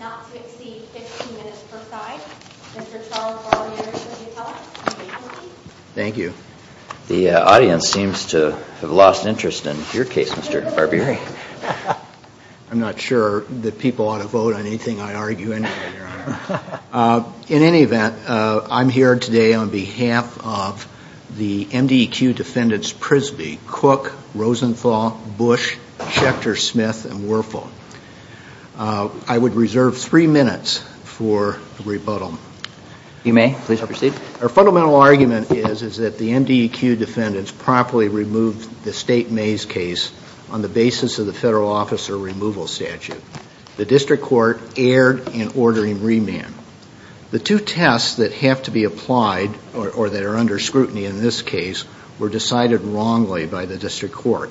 not to exceed 15 minutes per side. Mr. Charles Barbieri, will you tell us your name please? Thank you. The audience seems to have lost interest in your case, Mr. Barbieri. I'm not sure that people ought to vote on anything I argue in here. In any event, I'm here today on behalf of the MDEQ defendants Prisby, Cook, Rosenthal, Bush, Schechter, Smith, and Werfel. I would reserve three minutes for rebuttal. You may. Please proceed. Our fundamental argument is that the MDEQ defendants properly removed the State Mays case on the basis of the Federal Officer Removal Statute. The District Court erred in ordering remand. The two tests that have to be applied, or that are under scrutiny in this case, were decided wrongly by the District Court.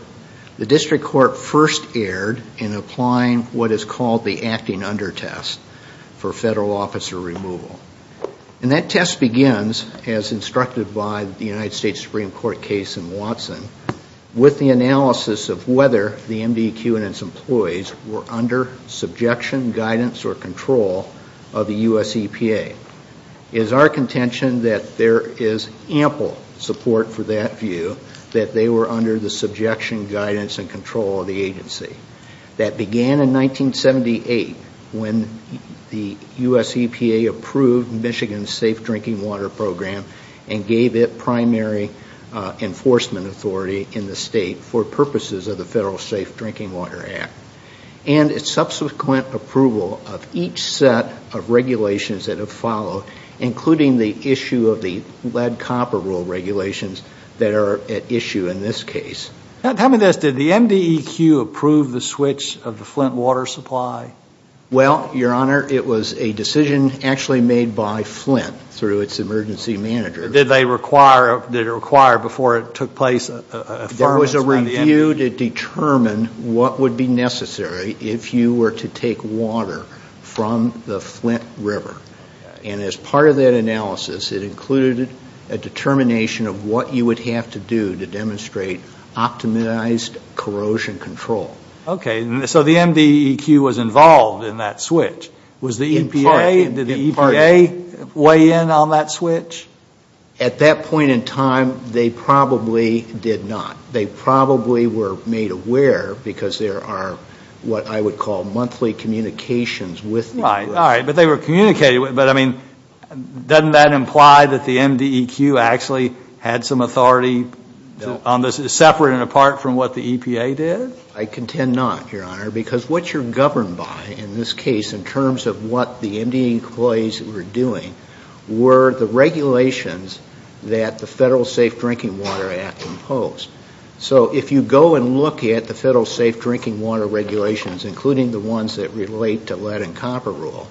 The District Court first erred in applying what is called the acting under test for Federal Officer Removal. And that test begins, as instructed by the United States were under subjection, guidance, or control of the U.S. EPA. It is our contention that there is ample support for that view, that they were under the subjection, guidance, and control of the agency. That began in 1978 when the U.S. EPA approved Michigan's Safe Drinking Water Program and gave it primary enforcement authority in the State for purposes of the Federal Safe Drinking Water Act, and its subsequent approval of each set of regulations that have followed, including the issue of the lead copper rule regulations that are at issue in this case. Tell me this, did the MDEQ approve the switch of the Flint water supply? Well, Your Honor, it was a decision actually made by Flint through its emergency manager. Did they require, did it require before it took place a firm? There was a review to determine what would be necessary if you were to take water from the Flint River. And as part of that analysis, it included a determination of what you would have to do to demonstrate optimized corrosion control. Okay. So the MDEQ was involved in that switch. Was the EPA weigh in on that switch? At that point in time, they probably did not. They probably were made aware because there are what I would call monthly communications with Flint. Right, all right. But they were communicated with. But I mean, doesn't that imply that the MDEQ actually had some authority on this, separate and apart from what the EPA did? I contend not, Your Honor, because what you're governed by in this case in terms of what the MDEQ employees were doing were the regulations that the Federal Safe Drinking Water Act imposed. So if you go and look at the Federal Safe Drinking Water regulations, including the ones that relate to lead and copper rule,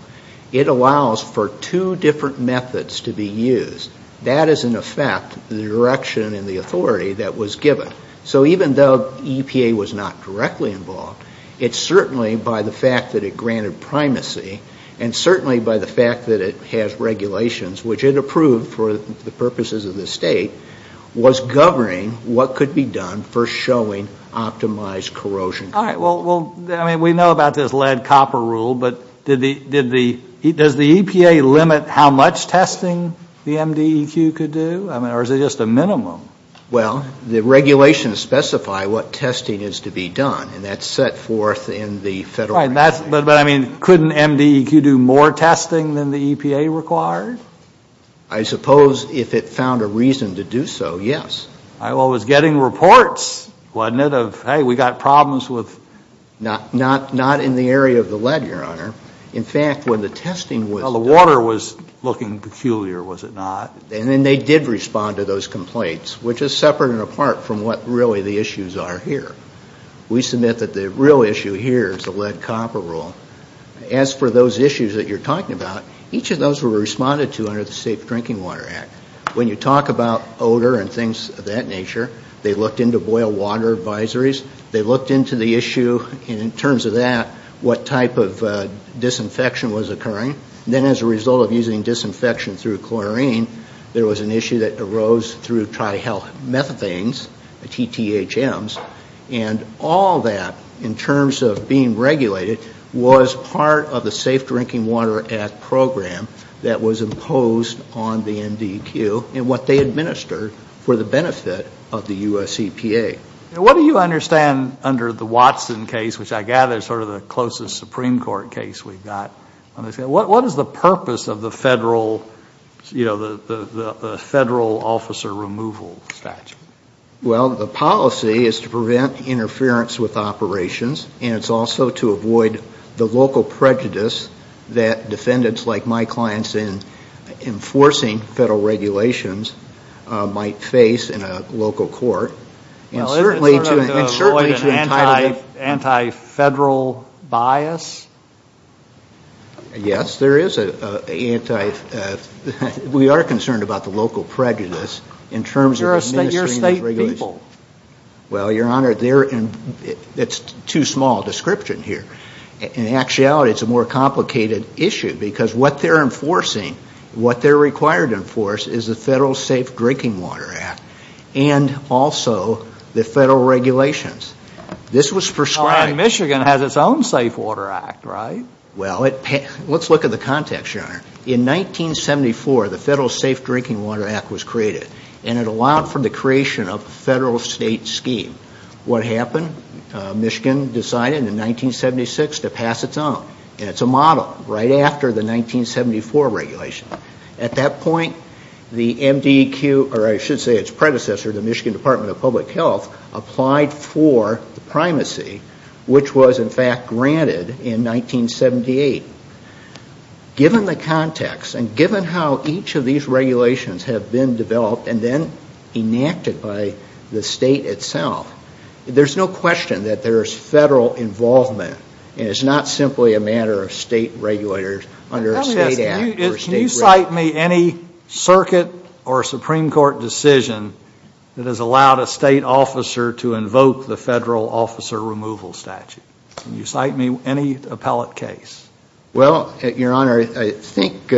it allows for two different methods to be used. That is in effect the direction and the authority that was given. So even though EPA was not directly involved, it certainly by the fact that it granted primacy and certainly by the fact that it has regulations, which it approved for the purposes of this State, was governing what could be done for showing optimized corrosion control. All right. Well, we know about this lead copper rule, but did the EPA limit how much testing the MDEQ could do? I mean, or is it just a minimum? Well, the regulations specify what testing is to be done, and that's set forth in the Federal Safe Drinking Water Act. Right. But I mean, couldn't MDEQ do more testing than the EPA required? I suppose if it found a reason to do so, yes. All right. Well, it was getting reports, wasn't it, of, hey, we got problems with... Not in the area of the lead, Your Honor. In fact, when the testing was... Well, the water was looking peculiar, was it not? And then they did respond to those complaints, which is separate and apart from what really the issues are here. We submit that the real issue here is the lead copper rule. As for those issues that you're talking about, each of those were responded to under the Safe Drinking Water Act. When you talk about odor and things of that nature, they looked into boil water advisories. They looked into the As a result of using disinfection through chlorine, there was an issue that arose through trihalomethanes, TTHMs, and all that, in terms of being regulated, was part of the Safe Drinking Water Act program that was imposed on the MDEQ and what they administered for the benefit of the U.S. EPA. Now, what do you understand under the Watson case, which I gather is sort of the Supreme Court case we've got? What is the purpose of the federal officer removal statute? Well, the policy is to prevent interference with operations, and it's also to avoid the local prejudice that defendants like my clients in enforcing federal regulations might face in a local court, and certainly to avoid an anti-federal bias. Yes, there is an anti-federal bias. We are concerned about the local prejudice in terms of administering these regulations. But you're a state people. Well, Your Honor, it's too small a description here. In actuality, it's a more complicated issue, because what they're enforcing, what they're required to enforce, and also the federal regulations. This was prescribed. All right, Michigan has its own Safe Water Act, right? Well, let's look at the context, Your Honor. In 1974, the Federal Safe Drinking Water Act was created, and it allowed for the creation of a federal state scheme. What happened? Michigan decided in 1976 to pass its own, and it's a model 1974 regulation. At that point, the MDQ, or I should say its predecessor, the Michigan Department of Public Health, applied for the primacy, which was, in fact, granted in 1978. Given the context, and given how each of these regulations have been developed and then enacted by the state itself, there's no question that there's federal involvement, and it's not simply a matter of state regulators under a state act. Can you cite me any circuit or Supreme Court decision that has allowed a state officer to invoke the federal officer removal statute? Can you cite me any appellate case? Well, Your Honor, I think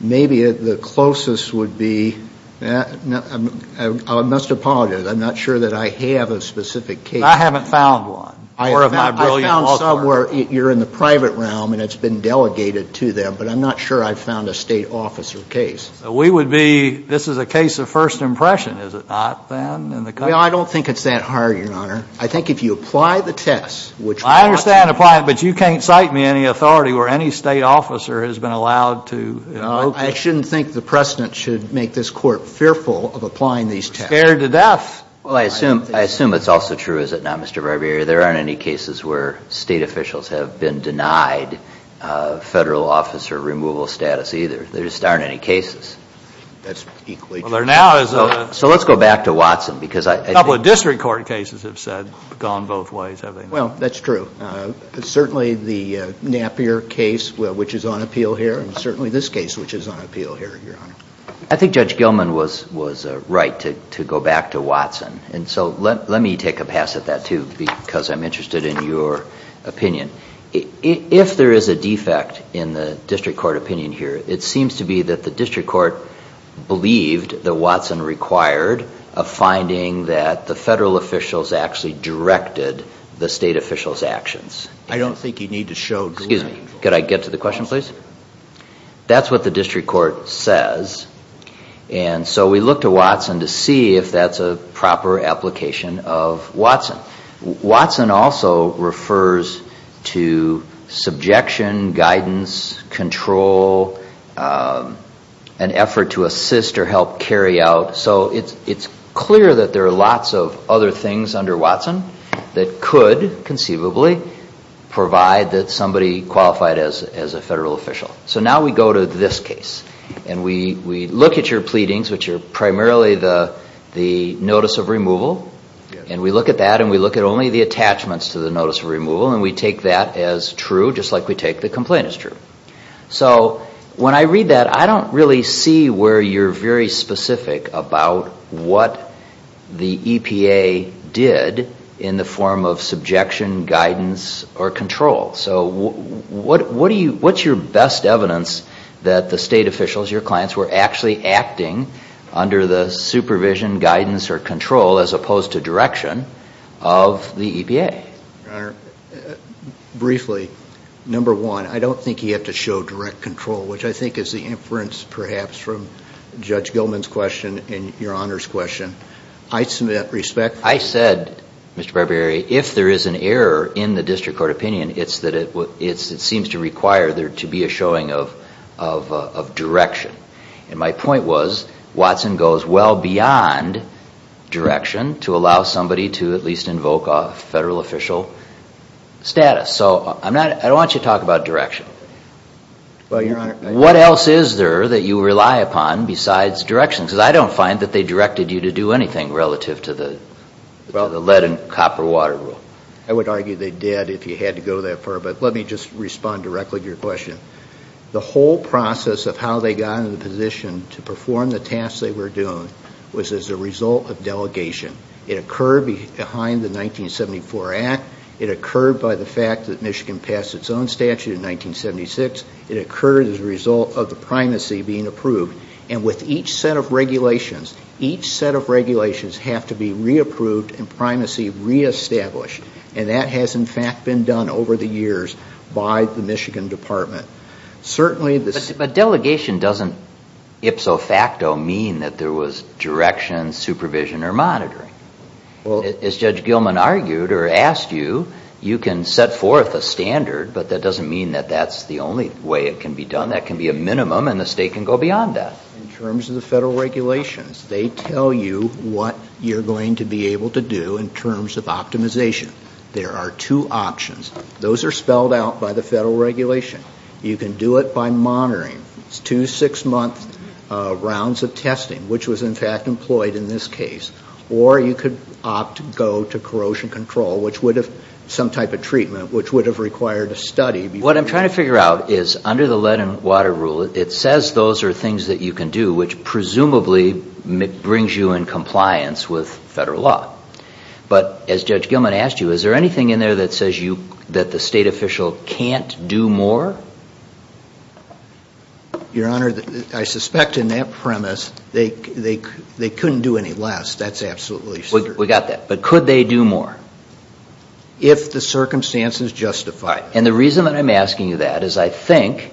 maybe the closest would be, I must apologize, I'm not sure that I have a specific case. I haven't found one. I've found some where you're in the private realm, and it's been delegated to them, but I'm not sure I've found a state officer case. We would be, this is a case of first impression, is it not, then, in the country? Well, I don't think it's that hard, Your Honor. I think if you apply the tests, which I understand apply, but you can't cite me any authority where any state officer has been allowed to invoke it. I shouldn't think the precedent should make this Court fearful of applying these tests. Scared to death. Well, I assume it's also true, is it not, Mr. Barbieri, there aren't any cases where state officials have been denied federal officer removal status, either. There just aren't any cases. That's equally true. So let's go back to Watson. A couple of district court cases have said, gone both ways. Well, that's true. Certainly the Napier case, which is on appeal here, and certainly this case, which is on appeal here, Your Honor. I think Judge Watson, and so let me take a pass at that, too, because I'm interested in your opinion. If there is a defect in the district court opinion here, it seems to be that the district court believed that Watson required a finding that the federal officials actually directed the state officials' actions. I don't think you need to show... Excuse me. Could I get to the question, please? That's what the district court says, and so we look to Watson to see if that's a proper application of Watson. Watson also refers to subjection, guidance, control, an effort to assist or help carry out. So it's clear that there are lots of other things under Watson that could, conceivably, provide that somebody qualified as a federal official. So now we go to this case, and we look at your pleadings, which are primarily the notice of removal, and we look at that, and we look at only the attachments to the notice of removal, and we take that as true, just like we take the complaint as true. So when I read that, I don't really see where you're very specific about what the EPA did in the form of subjection, guidance, or control. So what's your best evidence that the state has supervision, guidance, or control, as opposed to direction of the EPA? Your Honor, briefly, number one, I don't think you have to show direct control, which I think is the inference, perhaps, from Judge Gilman's question and your Honor's question. I submit respect... I said, Mr. Barbieri, if there is an error in the district court opinion, it's that it seems to require there to be a showing of direction. And my point was, Watson goes well beyond direction to allow somebody to at least invoke a federal official status. So I don't want you to talk about direction. What else is there that you rely upon besides direction? Because I don't find that they directed you to do anything relative to the lead and copper water rule. I would argue they did, if you had to go that far. But let me just respond directly to your question. The whole process of how they got into the position to perform the tasks they were doing was as a result of delegation. It occurred behind the 1974 Act. It occurred by the fact that Michigan passed its own statute in 1976. It occurred as a result of the primacy being approved. And with each set of regulations, each set of regulations have to be re-approved and primacy re-established. And that has, in fact, been done over the years by the Michigan Department. But delegation doesn't ipso facto mean that there was direction, supervision, or monitoring. As Judge Gilman argued, or asked you, you can set forth a standard, but that doesn't mean that that's the only way it can be done. That can be a minimum and the state can go beyond that. In terms of the federal regulations, they tell you what you're going to be able to do in terms of optimization. There are two options. Those are spelled out by the federal regulation. You can do it by monitoring. It's two six-month rounds of testing, which was, in fact, employed in this case. Or you could opt to go to corrosion control, which would have, some type of treatment, which would have required a study. What I'm trying to figure out is, under the lead and water rule, it says those are things that you can do, which presumably brings you in compliance with federal law. But as Judge Gilman asked you, is there anything in there that says you, that the state official can't do more? Your Honor, I suspect in that premise, they couldn't do any less. That's absolutely certain. We got that. But could they do more? If the circumstances justify it. And the reason that I'm asking you that is I think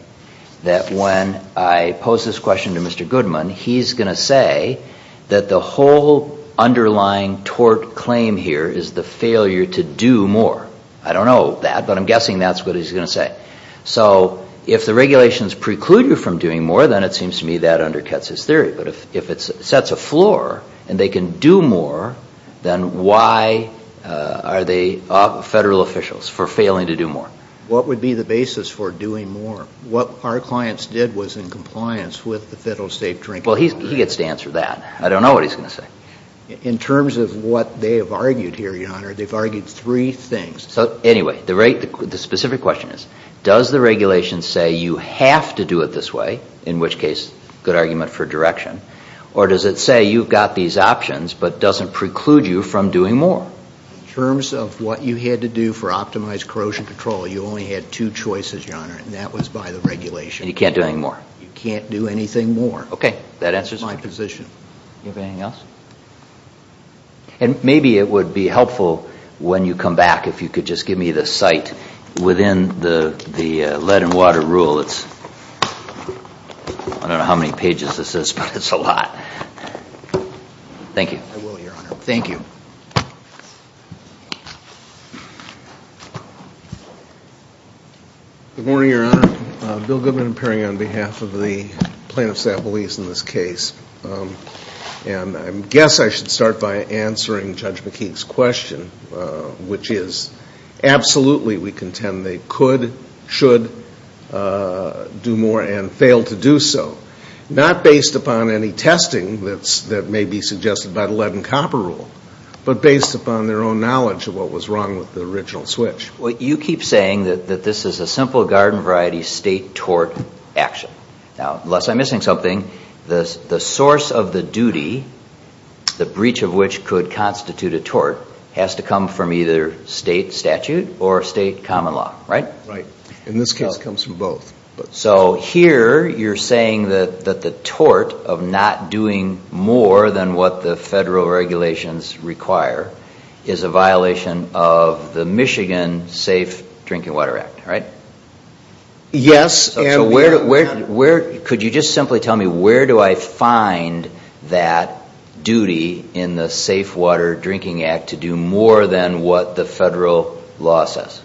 that when I pose this question to Mr. Goodman, he's going to say that the whole underlying tort claim here is the failure to do more. I don't know that, but I'm guessing that's what he's going to say. So if the regulations preclude you from doing more, then it seems to me that undercuts his theory. But if it sets a floor and they can do more, then why are they federal officials for failing to do more? What would be the basis for doing more? What our clients did was in compliance with the federal state drinking regulation. Well, he gets to answer that. I don't know what he's going to say. In terms of what they have argued here, Your Honor, they've argued three things. So anyway, the specific question is, does the regulation say you have to do it this way, in which case, good argument for direction, or does it say you've got these options but doesn't preclude you from doing more? In terms of what you had to do for optimized corrosion control, you only had two choices, Your Honor, and that was by the regulation. And you can't do anything more? You can't do anything more. Okay. That answers my question. That's my position. Do you have anything else? And maybe it would be helpful when you come back if you could just give me the site within the lead and water rule. I don't know how many pages this is, but it's a lot. Thank you. I will, Your Honor. Thank you. Good morning, Your Honor. Bill Goodman and Perry on behalf of the plaintiffs at Belize in this case. And I guess I should start by answering Judge McKeek's question, which is absolutely we contend they could, should do more and fail to do so, not based upon any of their own knowledge of what was wrong with the original switch. You keep saying that this is a simple garden variety state tort action. Now, unless I'm missing something, the source of the duty, the breach of which could constitute a tort, has to come from either state statute or state common law, right? Right. In this case, it comes from both. So here, you're saying that the tort of not doing more than what the federal regulations require is a violation of the Michigan Safe Drinking Water Act, right? Yes. Could you just simply tell me where do I find that duty in the Safe Water Drinking Act to do more than what the federal law says?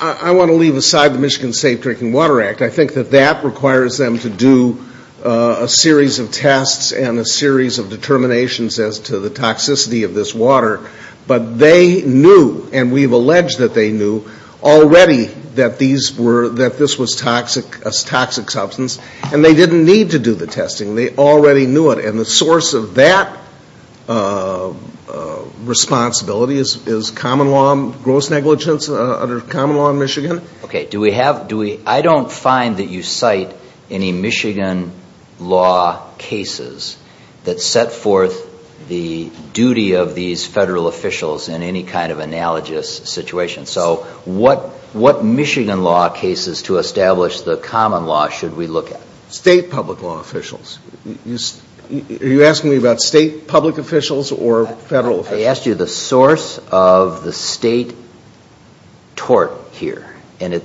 I want to leave aside the Michigan Safe Drinking Water Act. I think that that requires them to do a series of tests and a series of determinations as to the toxicity of this water. But they knew, and we've alleged that they knew, already that these were, that this was toxic, a toxic substance, and they didn't need to do the testing. They already knew it. And the source of that responsibility is common law, gross negligence under common law in Michigan? Okay. Do we have, do we, I don't find that you cite any Michigan law cases that set forth the duty of these federal officials in any kind of analogous situation. So what Michigan law cases to establish the common law should we look at? State public law officials. Are you asking me about state public officials or federal officials? I asked you the source of the state tort here. And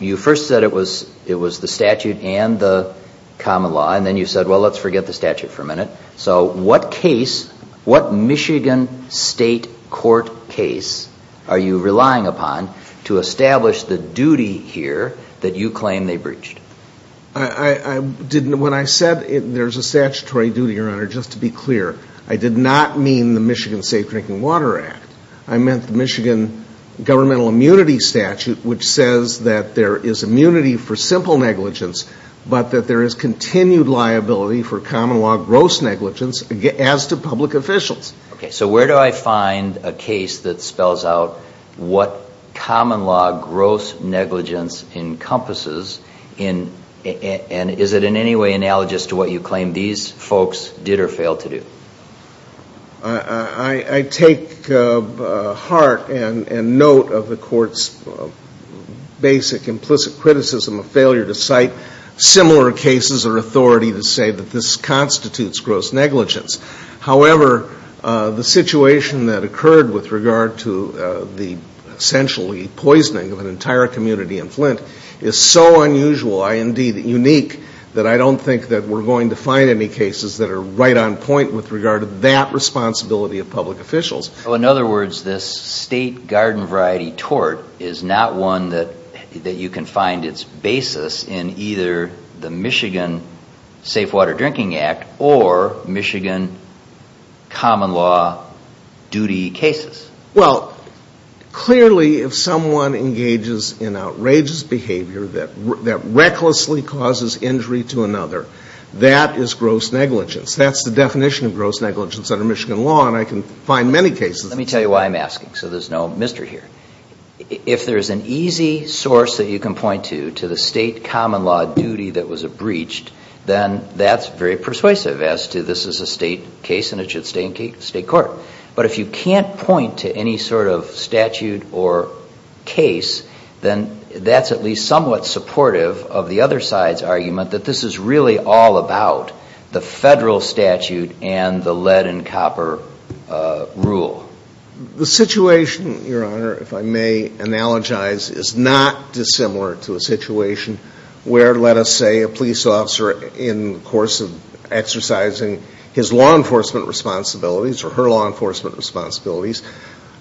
you first said it was the statute and the common law. And then you said, well, let's forget the statute for a minute. So what case, what Michigan state court case are you relying upon to establish the duty here that you claim they breached? When I said there's a statutory duty, Your Honor, just to be clear, I did not mean the Michigan Safe Drinking Water Act. I meant the Michigan governmental immunity statute, which says that there is immunity for simple negligence, but that there is continued liability for common law gross negligence as to public officials. Okay. So where do I find a case that spells out what common law gross negligence encompasses in, and is it in any way analogous to what you claim these folks did or failed to do? I take heart and note of the Court's basic implicit criticism of failure to cite similar cases or authority to say that this constitutes gross negligence. However, the situation that occurred with regard to the essentially poisoning of an entire community in Flint is so unusual, indeed, unique, that I don't think that we're going to find any cases that are right on point with regard to that responsibility of public officials. So, in other words, this state garden variety tort is not one that you can find its basis in either the Michigan Safe Water Drinking Act or Michigan common law duty cases? Well, clearly, if someone engages in outrageous behavior that recklessly causes injury to Michigan gross negligence under Michigan law, and I can find many cases. Let me tell you why I'm asking so there's no mystery here. If there's an easy source that you can point to, to the state common law duty that was breached, then that's very persuasive as to this is a state case and it should stay in state court. But if you can't point to any sort of statute or case, then that's at least somewhat supportive of the other side's argument that this is really all about the federal statute and the lead and copper rule. The situation, Your Honor, if I may analogize, is not dissimilar to a situation where, let us say, a police officer, in the course of exercising his law enforcement responsibilities or her law enforcement responsibilities,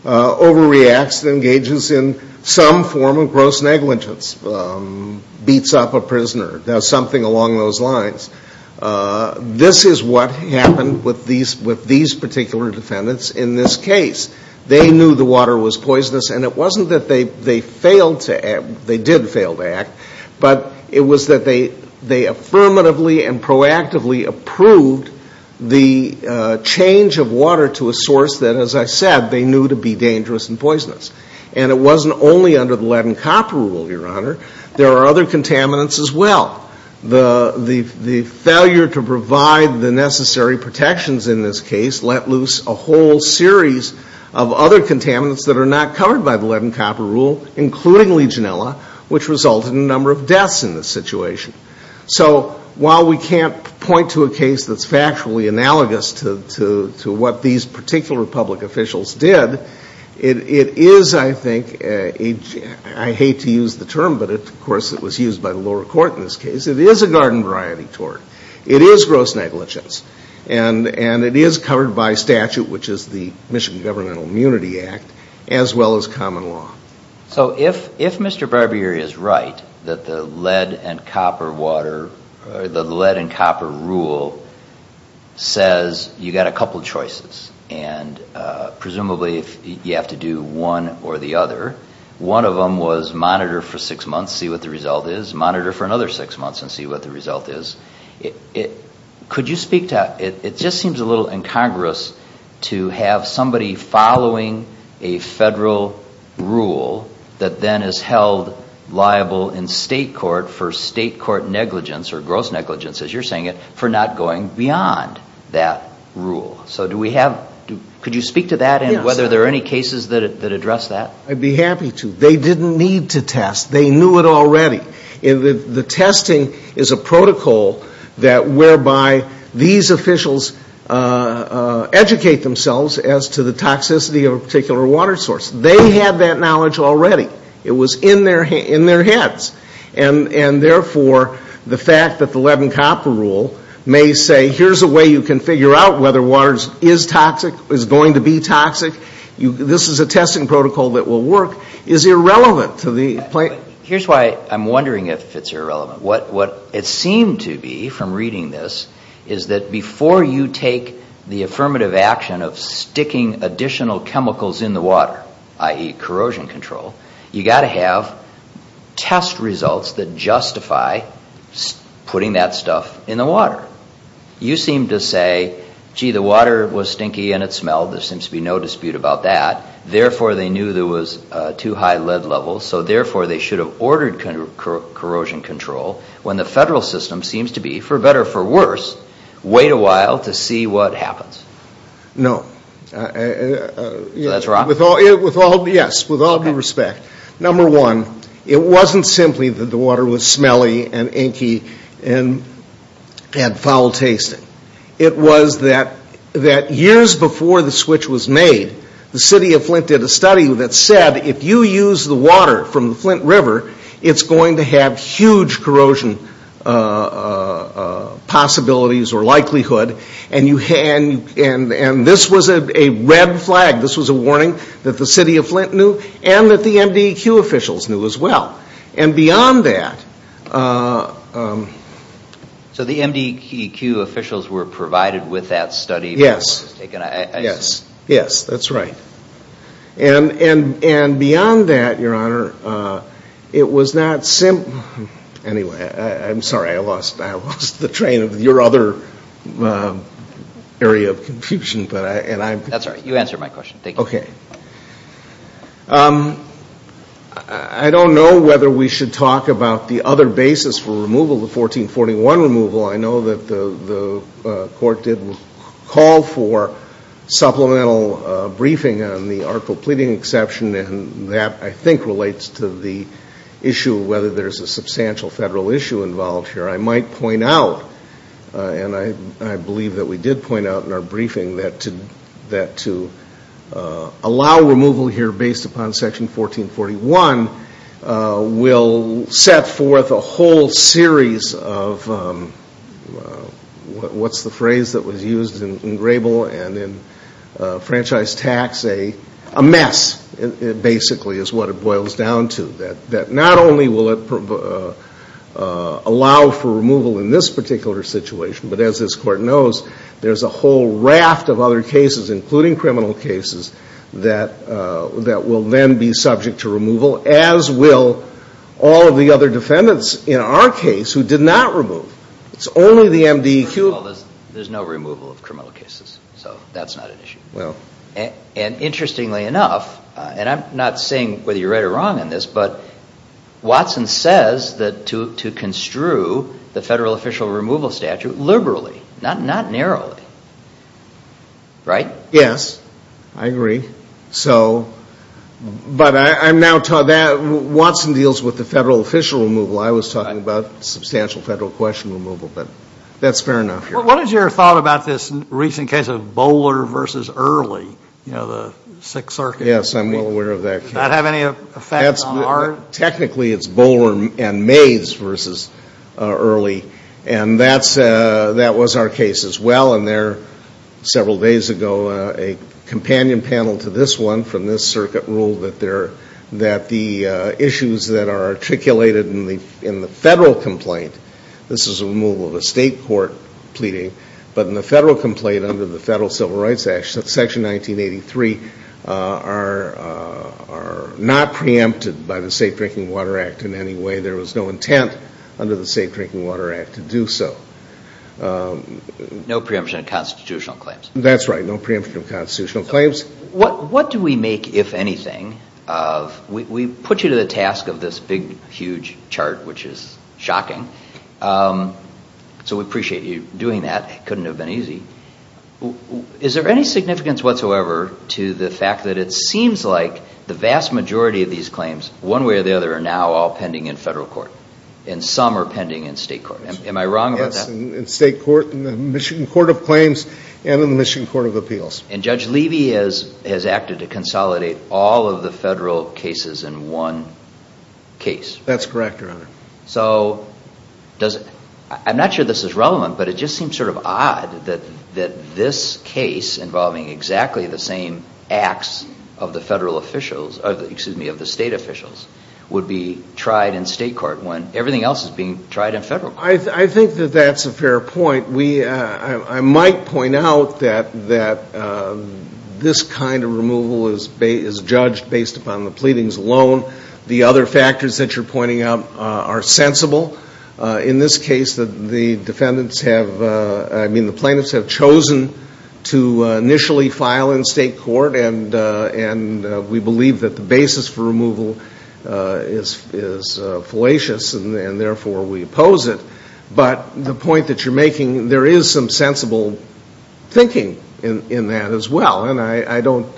overreacts and engages in some form of gross negligence, beats up a prisoner, does something along those lines. This is what happened with these particular defendants in this case. They knew the water was poisonous and it wasn't that they failed to act, they did fail to act, but it was that they affirmatively and proactively approved the change of water to a source that, as I said, they knew to be dangerous and poisonous. And it wasn't only under the lead and copper rule, Your Honor. There are other contaminants as well. The failure to provide the necessary protections in this case let loose a whole series of other contaminants that are not covered by the lead and copper rule, including Legionella, which resulted in a number of deaths in this situation. So while we can't point to a case that's factually analogous to what these particular public officials did, it is, I think, I hate to use the term, but of course it was used by the lower court in this case, it is a garden variety tort. It is gross negligence. And it is covered by statute, which is the Michigan Governmental Immunity Act, as well as common law. So if Mr. Barbieri is right, that the lead and copper water, or the lead and copper rule, says you've got a couple of choices, and presumably you have to do one or the other. One of them was monitor for six months, see what the result is, monitor for another six months and see what the result is. Could you speak to, it just seems a little incongruous to have somebody following a federal rule that then is held liable in state court for state court negligence, or gross negligence as you're saying it, for not going beyond that rule. So do we have, could you speak to that and whether there are any cases that address that? I'd be happy to. They didn't need to test. They knew it already. The testing is a protocol that whereby these officials educate themselves as to the toxicity of a particular water source. They had that knowledge already. It was in their heads. And therefore the fact that the lead and copper rule may say here's a way you can figure out whether water is toxic, is going to be toxic, this is a testing protocol that will work, is irrelevant to the plaintiff. Here's why I'm wondering if it's irrelevant. What it seemed to be from reading this is that before you take the affirmative action of sticking additional chemicals in the water, i.e. corrosion control, you've got to have test results that justify putting that stuff in the water. You seem to say, gee, the water was stinky and it smelled, there seems to be no dispute about that, therefore they knew there was too high lead levels, so therefore they should have ordered corrosion control when the federal system seems to be, for better or for worse, wait a while to see what happens. No. So that's wrong? Yes, with all due respect. Number one, it wasn't simply that the water was smelly and inky and had foul tasting. It was that years before the switch was made, the city of Flint did a study that said if you use the water from the Flint River, it's going to have huge corrosion possibilities or likelihood, and this was a red flag. This was a warning that the city of Flint knew and that the MDEQ officials knew as well. And beyond that... So the MDEQ officials were provided with that study before it was taken? Yes, that's right. And beyond that, Your Honor, it was not simply... Anyway, I'm sorry, I lost the train of your other area of confusion, but I... That's all right. You answered my question. Thank you. Okay. I don't know whether we should talk about the other basis for removal, the 1441 removal. I know that the Court did call for supplemental briefing on the artful pleading exception, and that, I think, relates to the issue of whether there's a substantial Federal issue involved here. I might point out, and I believe that we did point out in our briefing, that to allow removal here based upon Section 1441 will set forth a whole series of... What's the phrase that was used in Grable and in Franchise Tax? A mess, basically, is what it boils down to. That not only will it allow for removal in this particular situation, but as this Court knows, there's a whole raft of other cases, including criminal cases, that will then be subject to removal, as will all of the other defendants in our case who did not remove. It's only the MDQ... There's no removal of criminal cases, so that's not an issue. And interestingly enough, and I'm not saying whether you're right or wrong on this, but Watson says that to construe the Federal official removal statute liberally, not narrowly. Right? Yes, I agree. So, but I'm now... Watson deals with the Federal official removal. I was talking about substantial Federal question removal, but that's fair enough here. What is your thought about this recent case of Bowler v. Early, you know, the Sixth Circuit? Yes, I'm well aware of that case. Does that have any effect on our... Technically, it's Bowler and Mays v. Early, and that was our case as well. And there, several days ago, a companion panel to this one from this circuit ruled that the issues that are articulated in the Federal complaint, this is a removal of a State court pleading, but in the Federal complaint under the Federal Civil Rights Act, Section 1983, are not preempted by the Safe Drinking Water Act in any way. There was no intent under the Safe Drinking Water Act to do so. No preemption of constitutional claims. That's right. No preemption of constitutional claims. What do we make, if anything, of... We put you to the task of this big, huge chart, which is shocking. So we appreciate you doing that. It couldn't have been easy. Is there any significance whatsoever to the fact that it seems like the vast majority of these claims, one way or the other, are now all pending in Federal court, and some are pending in State court? Am I wrong about that? Yes, in State court, in the Michigan Court of Claims, and in the Michigan Court of Appeals. And Judge Levy has acted to consolidate all of the Federal cases in one case. That's correct, Your Honor. So does it... I'm not sure this is relevant, but it just seems sort of odd that this case involving exactly the same acts of the State officials would be tried in State court when everything else is being tried in Federal court. I think that that's a fair point. I might point out that this kind of removal is judged based upon the pleadings alone. The other factors that you're pointing out are sensible. In this case, the defendants have... I mean, the plaintiffs have chosen to initially file in State court, and we believe that the basis for removal is fallacious, and therefore we oppose it. But the point that you're making, there is some sensible thinking in that as well, and I don't...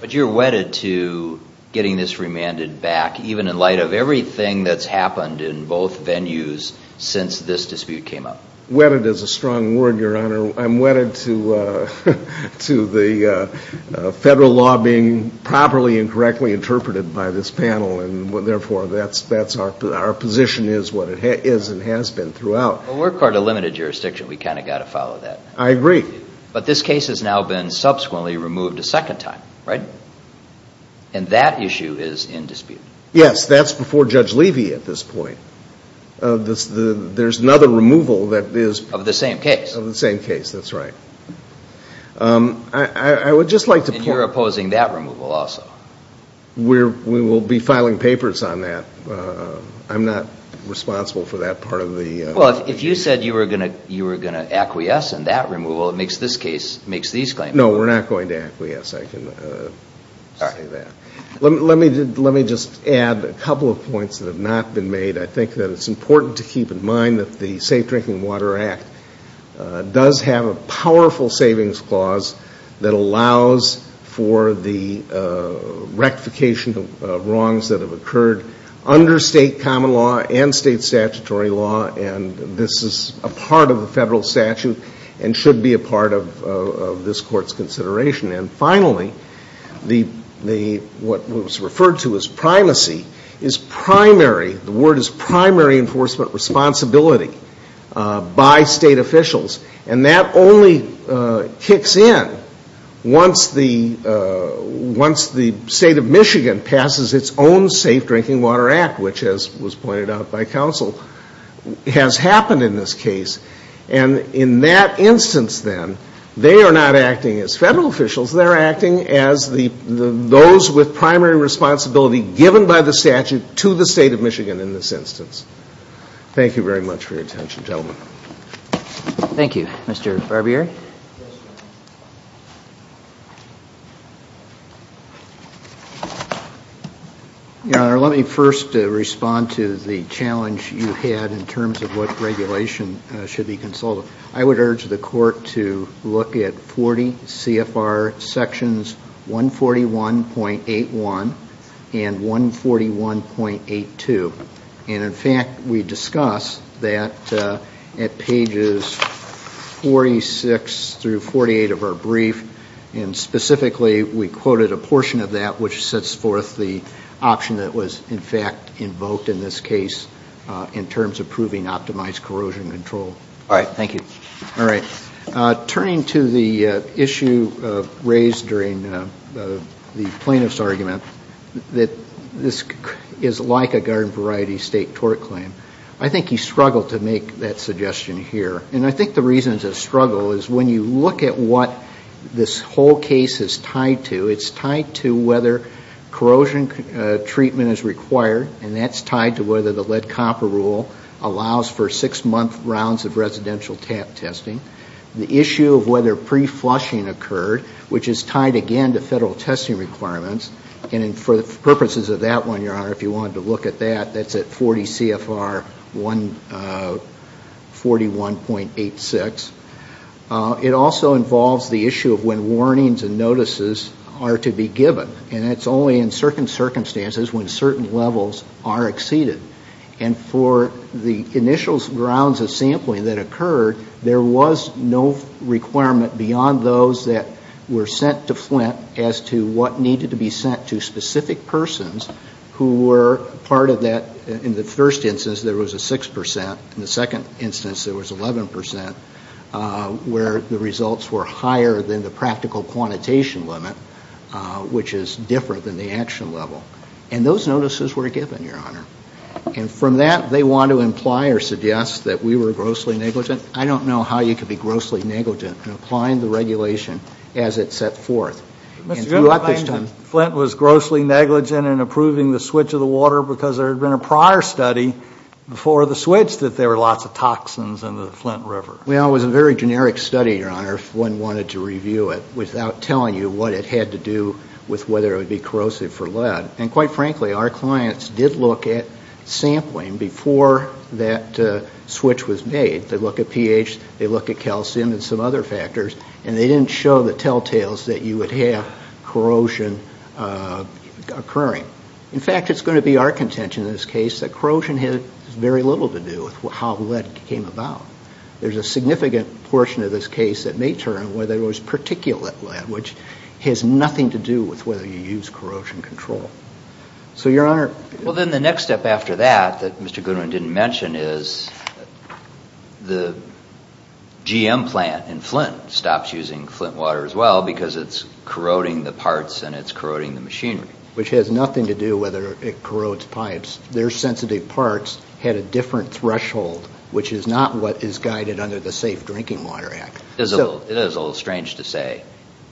But you're wedded to getting this remanded back, even in light of everything that's happened in both venues since this dispute came up. Wedded is a strong word, Your Honor. I'm wedded to the Federal law being properly and correctly interpreted by this panel, and therefore that's our position is what it is and has been throughout. Well, we're part of limited jurisdiction. We kind of got to follow that. I agree. But this case has now been subsequently removed a second time, right? And that issue is in dispute. Yes, that's before Judge Levy at this point. There's another removal that is... Of the same case. Of the same case, that's right. I would just like to point... And you're opposing that removal also. We will be filing papers on that. I'm not responsible for that part of the... Well, if you said you were going to acquiesce in that removal, it makes this case, makes these claims... No, we're not going to acquiesce. I can say that. Let me just add a couple of points that have not been made. I think that it's important to keep in mind that the Safe Drinking Water Act does have a powerful savings clause that allows for the rectification of wrongs that have occurred under state common law and state statutory law, and this is a part of the Federal statute and should be a part of this Court's consideration. And finally, what was referred to as primacy is primary, the word is primary enforcement responsibility by state officials, and that only kicks in once the State of Michigan passes its own Safe Drinking Water Act, which, as was pointed out by counsel, has happened in this case. And in that instance, then, they are not acting as Federal officials, they're acting as those with primary responsibility given by the statute to the State of Michigan in this instance. Thank you very much for your attention, gentlemen. Thank you. Mr. Barbieri? Your Honor, let me first respond to the challenge you had in terms of what regulation should be consulted. I would urge the Court to look at 40 CFR Sections 141.81 and 141.82. And in fact, we discuss that at pages 46 through 48 of our brief, and specifically, we quoted a portion of that which sets forth the option that was, in fact, invoked in this case in terms of proving optimized corrosion control. All right. Thank you. All right. Turning to the issue raised during the plaintiff's argument, that this is like a garden variety State tort claim, I think he struggled to make that suggestion here. And I think the reasons of struggle is when you look at what this whole case is tied to, it's tied to whether corrosion treatment is required, and that's tied to whether the lead copper rule allows for six-month rounds of residential tap testing. The issue of whether pre-flushing occurred, which is tied, again, to Federal testing requirements, and for purposes of that one, Your Honor, if you wanted to look at that, that's at 40 CFR 141.86. It also involves the issue of when warnings and notices are to be given. And that's only in certain circumstances when certain levels are exceeded. And for the initial rounds of sampling that occurred, there was no requirement beyond those that were sent to Flint as to what needed to be sent to specific persons who were part of that. In the first instance, there was a 6 percent. In the second instance, there was 11 percent, where the results were higher than the practical quantitation limit, which is different than the action level. And those notices were given, Your Honor. And from that, they want to imply or suggest that we were grossly negligent. I don't know how you could be grossly negligent in applying the regulation as it set forth. Mr. Chairman, I understand Flint was grossly negligent in approving the switch of the water because there had been a prior study before the switch that there were lots of toxins in the Flint River. Well, it was a very generic study, Your Honor, if one wanted to review it without telling you what it had to do with whether it would be corrosive for lead. And quite frankly, our clients did look at sampling before that switch was made. They look at pH, they look at all the telltales that you would have corrosion occurring. In fact, it's going to be our contention in this case that corrosion has very little to do with how lead came about. There's a significant portion of this case that may turn whether it was particulate lead, which has nothing to do with whether you use corrosion control. So Your Honor... Well, then the next step after that, that Mr. Goodwin didn't mention, is the GM plant in Flint stops using Flint water as well because it's corroding the parts and it's corroding the machinery. Which has nothing to do with whether it corrodes pipes. Their sensitive parts had a different threshold, which is not what is guided under the Safe Drinking Water Act. It is a little strange to say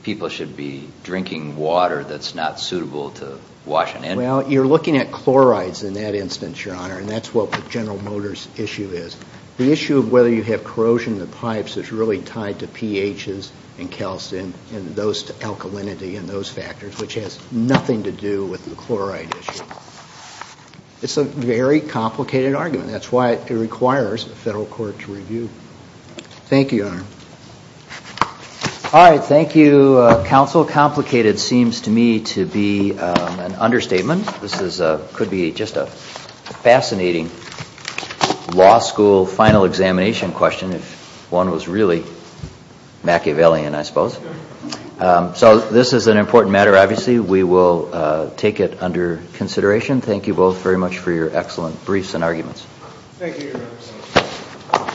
people should be drinking water that's not suitable to wash an engine with. You're looking at chlorides in that instance, Your Honor, and that's what the General Motors issue is. The issue of whether you have corrosion in the pipes is really tied to pHs and calcium and those alkalinity and those factors, which has nothing to do with the chloride issue. It's a very complicated argument. That's why it requires a federal court to review. Thank you, Your Honor. All right. Thank you, counsel. Complicated seems to me to be an understatement. This was a law school final examination question, if one was really Machiavellian, I suppose. So this is an important matter, obviously. We will take it under consideration. Thank you both very much for your excellent briefs and arguments. Thank you, Your Honor.